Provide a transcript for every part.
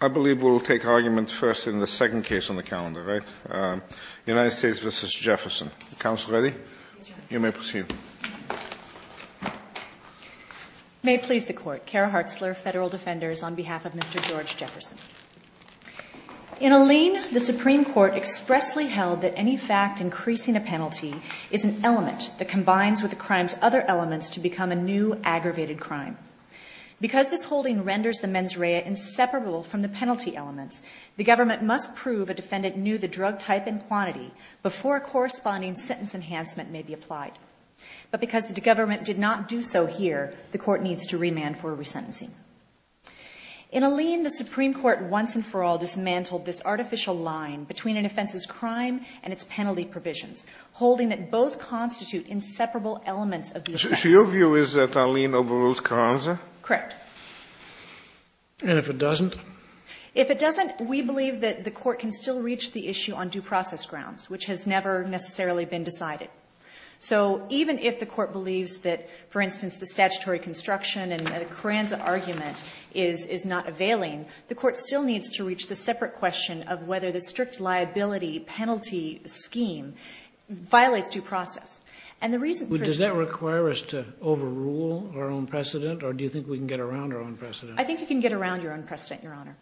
I believe we'll take arguments first in the second case on the calendar, right? United States v. Jefferson. Counsel ready? You may proceed. May it please the Court. Cara Hartzler, Federal Defenders, on behalf of Mr. George Jefferson. In a lien, the Supreme Court expressly held that any fact increasing a penalty is an element that combines with the crime's other elements to become a new, aggravated crime. Because this holding renders the mens rea inseparable from the penalty elements, the government must prove a defendant knew the drug type and quantity before a corresponding sentence enhancement may be applied. But because the government did not do so here, the Court needs to remand for resentencing. In a lien, the Supreme Court once and for all dismantled this artificial line between an offense's crime and its penalty provisions, holding that both constitute inseparable elements of the offense. So your view is that a lien overrules Carranza? Correct. And if it doesn't? If it doesn't, we believe that the Court can still reach the issue on due process grounds, which has never necessarily been decided. So even if the Court believes that, for instance, the statutory construction and the Carranza argument is not availing, the Court still needs to reach the separate question of whether the strict liability penalty scheme violates due process. Does that require us to overrule our own precedent? Or do you think we can get around our own precedent? I think you can get around your own precedent, Your Honor.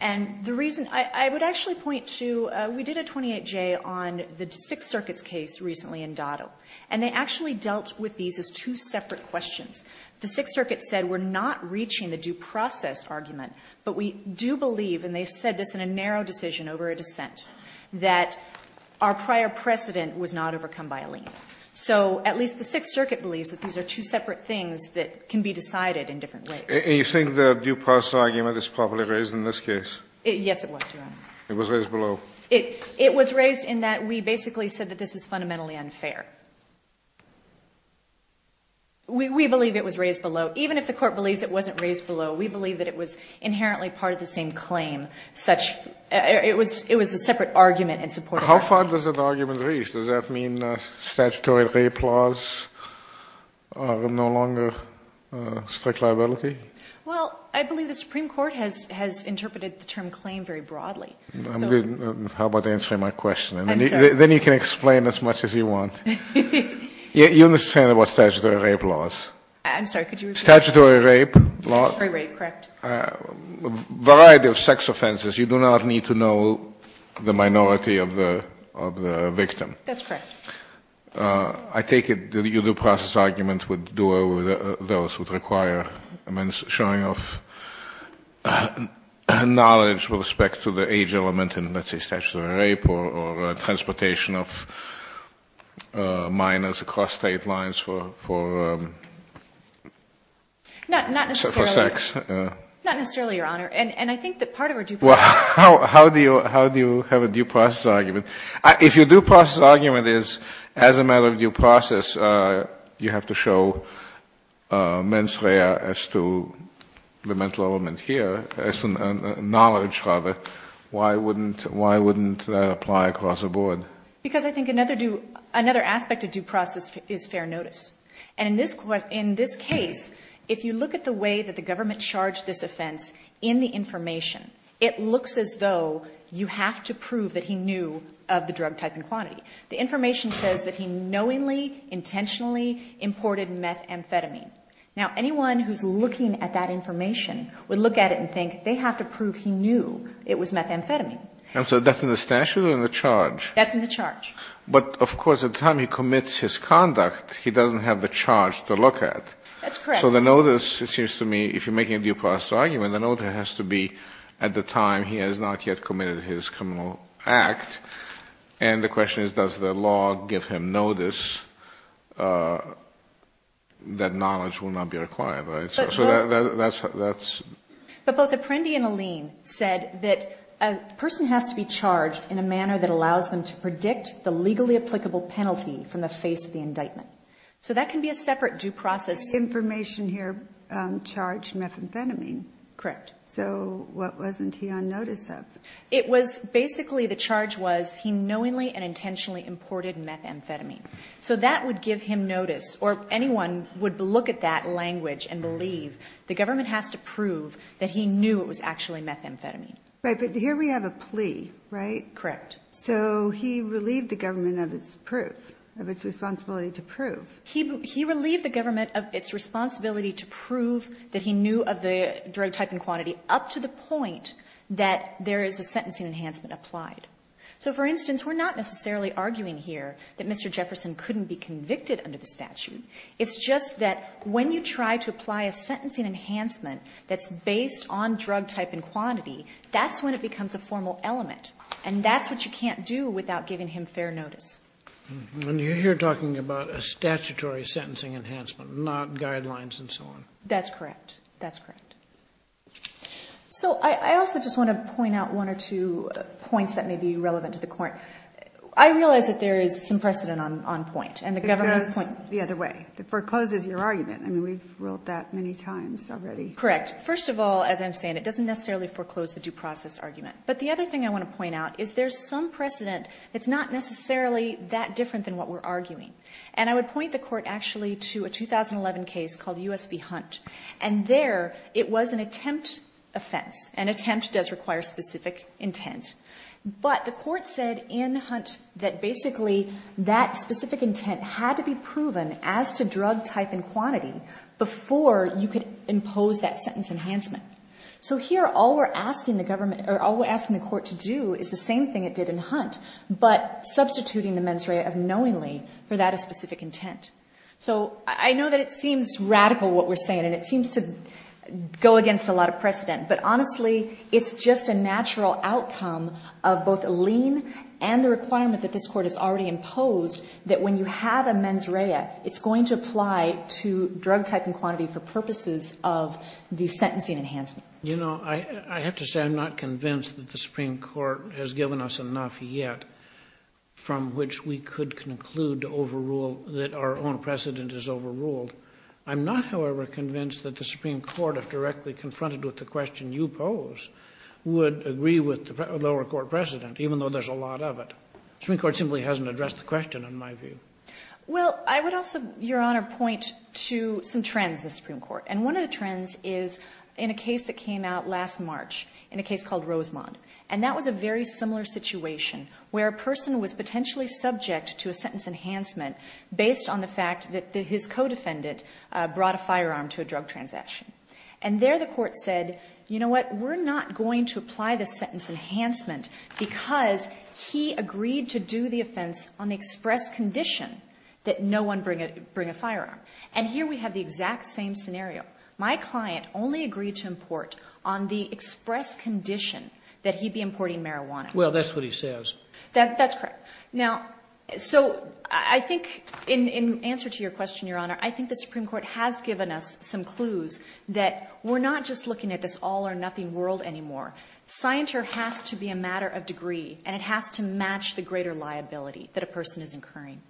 And the reason I would actually point to, we did a 28-J on the Sixth Circuit's case recently in Dotto. And they actually dealt with these as two separate questions. The Sixth Circuit said we're not reaching the due process argument, but we do believe, and they said this in a narrow decision over a dissent, that our prior precedent was not overcome by a lien. So at least the Sixth Circuit believes that these are two separate things that can be decided in different ways. And you think the due process argument is properly raised in this case? Yes, it was, Your Honor. It was raised below. It was raised in that we basically said that this is fundamentally unfair. We believe it was raised below. Even if the court believes it wasn't raised below, we believe that it was inherently part of the same claim. It was a separate argument in support of that. How far does that argument reach? Does that mean statutory re-applaws are no longer strict liability? Well, I believe the Supreme Court has interpreted the term claim very broadly. How about answering my question? Then you can explain as much as you want. You understand about statutory rape laws? I'm sorry, could you repeat that? Statutory rape laws? Statutory rape, correct. A variety of sex offenses. You do not need to know the minority of the victim. That's correct. I take it the due process argument would do away with those. It would require showing of knowledge with respect to the age element in, let's say, statutory rape, or transportation of minors across state lines for sex. Not necessarily, Your Honor. And I think that part of our due process argument... Well, how do you have a due process argument? If your due process argument is, as a matter of due process, you have to show mens rea as to the mental element here, as to knowledge rather, why wouldn't that apply across the board? Because I think another aspect of due process is fair notice. And in this case, if you look at the way that the government charged this offense in the information, it looks as though you have to prove that he knew of the drug type and quantity. The information says that he knowingly, intentionally imported methamphetamine. Now, anyone who's looking at that information would look at it and think they have to prove he knew it was methamphetamine. And so that's in the statute or in the charge? That's in the charge. But, of course, at the time he commits his conduct, he doesn't have the charge to look at. That's correct. So the notice, it seems to me, if you're making a due process argument, the notice has to be at the time he has not yet committed his criminal act. And the question is, does the law give him notice that knowledge will not be required? So that's... But both Apprendi and Alleen said that a person has to be charged in a manner that allows them to predict the legally applicable penalty from the face of the indictment. So that can be a separate due process... But this information here charged methamphetamine. Correct. So what wasn't he on notice of? It was basically the charge was he knowingly and intentionally imported methamphetamine. So that would give him notice, or anyone would look at that language and believe the government has to prove that he knew it was actually methamphetamine. Right, but here we have a plea, right? Correct. So he relieved the government of its proof, of its responsibility to prove. He relieved the government of its responsibility to prove that he knew of the drug type and quantity up to the point that there is a sentencing enhancement applied. So, for instance, we're not necessarily arguing here that Mr. Jefferson couldn't be convicted under the statute. It's just that when you try to apply a sentencing enhancement that's based on drug type and quantity, that's when it becomes a formal element. And that's what you can't do without giving him fair notice. And you're here talking about a statutory sentencing enhancement, not guidelines and so on. That's correct. That's correct. So I also just want to point out one or two points that may be relevant to the court. I realize that there is some precedent on point, and the government's point. It goes the other way. It forecloses your argument. I mean, we've ruled that many times already. Correct. First of all, as I'm saying, it doesn't necessarily foreclose the due process argument. But the other thing I want to point out is there's some precedent that's not necessarily that different than what we're arguing. And I would point the court actually to a 2011 case called U.S. v. Hunt. And there it was an attempt offense. An attempt does require specific intent. But the court said in Hunt that basically that specific intent had to be proven as to drug type and quantity before you could impose that sentence enhancement. So here all we're asking the court to do is the same thing it did in Hunt, but substituting the mens rea of knowingly for that specific intent. So I know that it seems radical what we're saying, and it seems to go against a lot of precedent. But honestly, it's just a natural outcome of both a lien and the requirement that this court has already imposed that when you have a mens rea, it's going to apply to drug type and quantity for purposes of the sentencing enhancement. You know, I have to say I'm not convinced that the Supreme Court has given us enough yet from which we could conclude to overrule that our own precedent is overruled. I'm not, however, convinced that the Supreme Court, if directly confronted with the question you pose, would agree with the lower court precedent, even though there's a lot of it. The Supreme Court simply hasn't addressed the question in my view. Well, I would also, Your Honor, point to some trends in the Supreme Court. And one of the trends is in a case that came out last March, in a case called Rosemond. And that was a very similar situation where a person was potentially subject to a sentence enhancement based on the fact that his co-defendant brought a firearm to a drug transaction. And there the court said, you know what, we're not going to apply the sentence enhancement because he agreed to do the offense on the express condition that no one bring a firearm. And here we have the exact same scenario. My client only agreed to import on the express condition that he be importing marijuana. Well, that's what he says. That's correct. Now, so I think in answer to your question, Your Honor, I think the Supreme Court has given us some clues that we're not just looking at this all or nothing world anymore. Scienture has to be a matter of degree, and it has to match the greater liability that a person is incurring.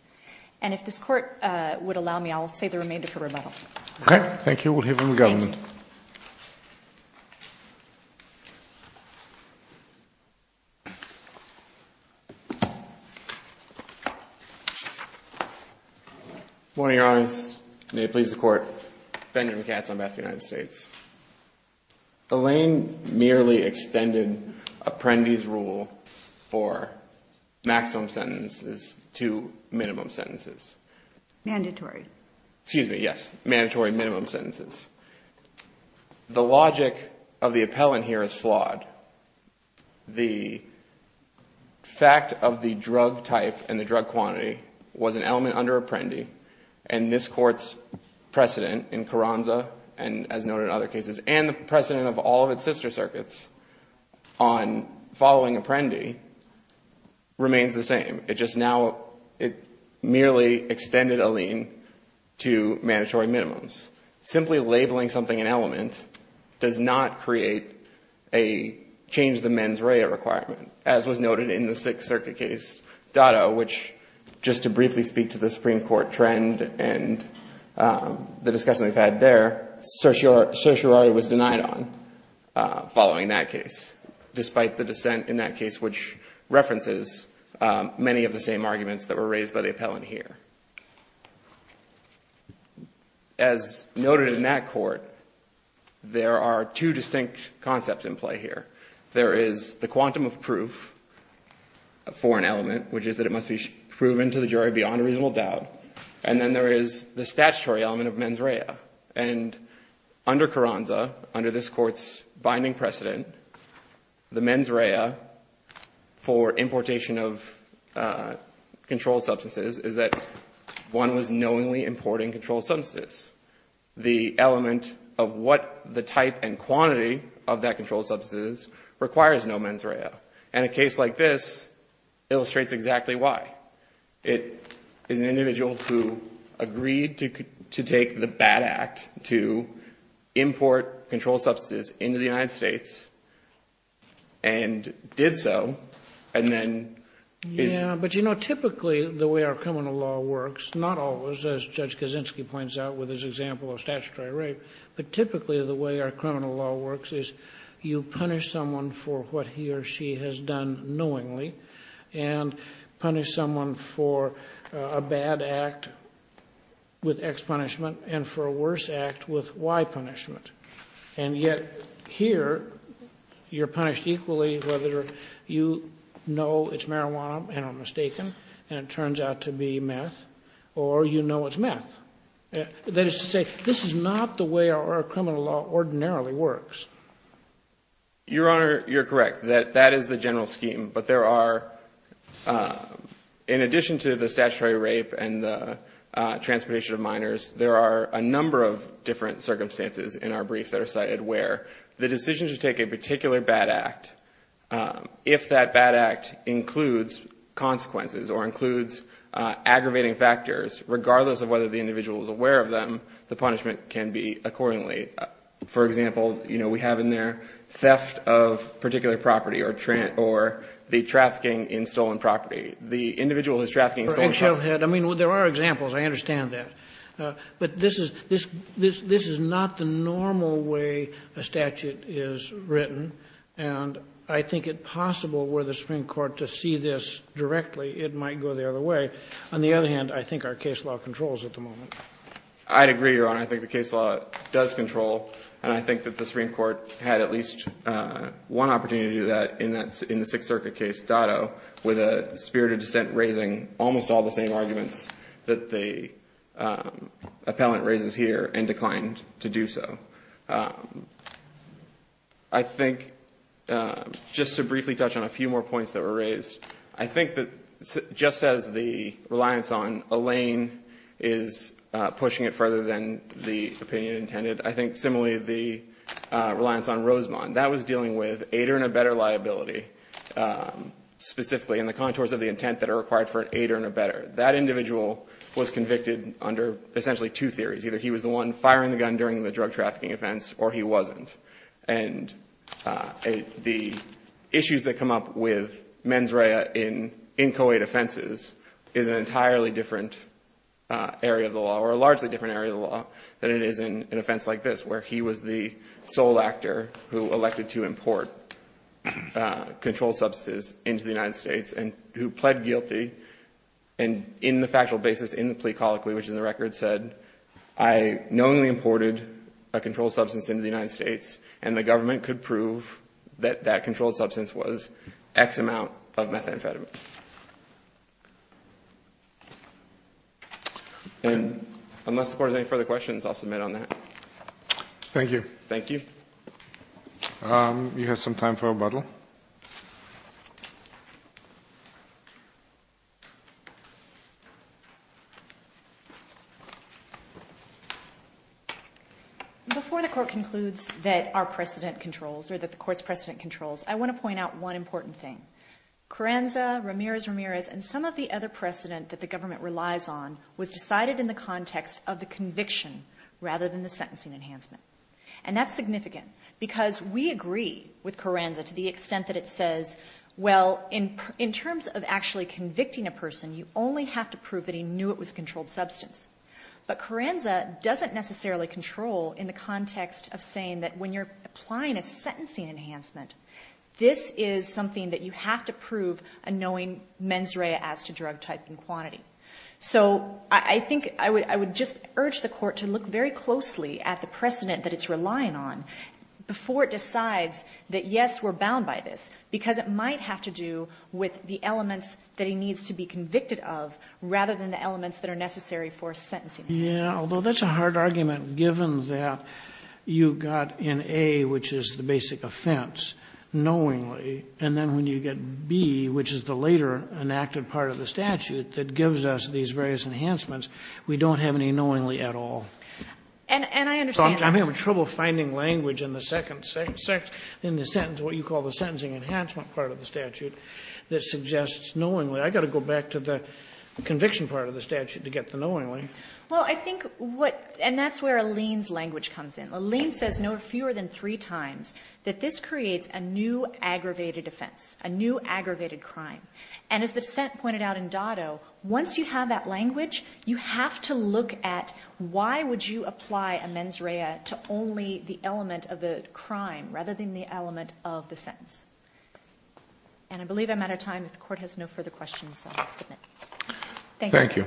And if this court would allow me, I'll say the remainder for rebuttal. Okay. Thank you. We'll hear from the government. Morning, Your Honors. May it please the court. Benjamin Katz, Ambassador of the United States. Elaine merely extended Apprendi's rule for maximum sentences to minimum sentences. Mandatory. Excuse me, yes. Mandatory minimum sentences. The logic of the appellant here is flawed. The fact of the drug type and the drug quantity was an element under Apprendi, and this court's precedent in Carranza and as noted in other cases, and the precedent of all of its sister circuits on following Apprendi remains the same. It just now, it merely extended Elaine to mandatory minimums. Simply labeling something an element does not create a change the mens rea requirement, as was noted in the Sixth Circuit case, Dotto, which just to briefly speak to the Supreme Court trend and the discussion we've had there, certiorari was denied on following that case, despite the dissent in that case, which references many of the same arguments that were raised by the appellant here. As noted in that court, there are two distinct concepts in play here. There is the quantum of proof for an element, which is that it must be proven to the jury beyond a reasonable doubt, and then there is the statutory element of mens rea. And under Carranza, under this court's binding precedent, the mens rea for importation of controlled substances is that one was knowingly importing controlled substances. The element of what the type and quantity of that controlled substance is requires no mens rea. And a case like this illustrates exactly why. It is an individual who agreed to take the bad act to import controlled substances into the United States and did so, and then is But, you know, typically the way our criminal law works, not always, as Judge Kaczynski points out with his example of statutory rape, but typically the way our criminal law works is you punish someone for what he or she has done knowingly and punish someone for a bad act with X punishment and for a worse act with Y punishment. And yet here you're punished equally whether you know it's marijuana and are mistaken and it turns out to be meth or you know it's meth. That is to say, this is not the way our criminal law ordinarily works. Your Honor, you're correct. That is the general scheme. But there are, in addition to the statutory rape and the transportation of minors, there are a number of different circumstances in our brief that are cited where the decision to take a particular bad act, if that bad act includes consequences or includes aggravating factors, regardless of whether the individual is aware of them, the punishment can be accordingly. For example, you know, we have in there theft of particular property or the trafficking in stolen property. The individual is trafficking in stolen property. I mean, there are examples. I understand that. But this is not the normal way a statute is written. And I think it possible were the Supreme Court to see this directly, it might go the other way. On the other hand, I think our case law controls at the moment. I'd agree, Your Honor. I think the case law does control. And I think that the Supreme Court had at least one opportunity to do that in the Sixth Circuit case, Dotto, with a spirit of dissent raising almost all the same arguments that the appellant raises here and declined to do so. I think, just to briefly touch on a few more points that were raised, I think that just as the reliance on Elaine is pushing it further than the opinion intended, I think similarly the reliance on Rosemond, that was dealing with aider and a better liability, specifically in the contours of the intent that are required for an aider and a better. That individual was convicted under essentially two theories. Either he was the one firing the gun during the drug trafficking offense, or he wasn't. And the issues that come up with mens rea in co-aid offenses is an entirely different area of the law, or a largely different area of the law, than it is in an offense like this, where he was the sole actor who elected to import controlled substances into the United States, and who pled guilty in the factual basis in the plea colloquy, which in the record said, I knowingly imported a controlled substance into the United States, and the government could prove that that controlled substance was X amount of methamphetamine. And unless the court has any further questions, I'll submit on that. Thank you. Thank you. You have some time for rebuttal. Before the court concludes that our precedent controls, or that the court's precedent controls, I want to point out one important thing. Carranza, Ramirez, Ramirez, and some of the other precedent that the government relies on was decided in the context of the conviction rather than the sentencing enhancement. And that's significant, because we agree with Carranza to the extent that it says, well, in terms of actually convicting a person, you only have to prove that he knew it was a controlled substance. But Carranza doesn't necessarily control in the context of saying that when you're applying a sentencing enhancement, this is something that you have to prove a knowing mens rea as to drug type and quantity. So I think I would just urge the court to look very closely at the precedent that it's relying on before it decides that, yes, we're bound by this, because it might have to do with the elements that he needs to be convicted of rather than the elements that are necessary for sentencing enhancement. Sotomayor, although that's a hard argument, given that you've got an A, which is the basic offense, knowingly, and then when you get B, which is the later enacted part of the statute that gives us these various enhancements, we don't have any knowingly at all. And I understand that. I'm having trouble finding language in the second sentence, what you call the sentencing enhancement part of the statute, that suggests knowingly. I've got to go back to the conviction part of the statute to get the knowingly. Well, I think what ñ and that's where Alene's language comes in. Alene says no fewer than three times that this creates a new aggravated offense, a new aggravated crime. And as the dissent pointed out in Dotto, once you have that language, you have to look at why would you apply a mens rea to only the element of the crime rather than the element of the sentence. And I believe I'm out of time. If the court has no further questions, I'll submit. Thank you. Thank you. Thank you.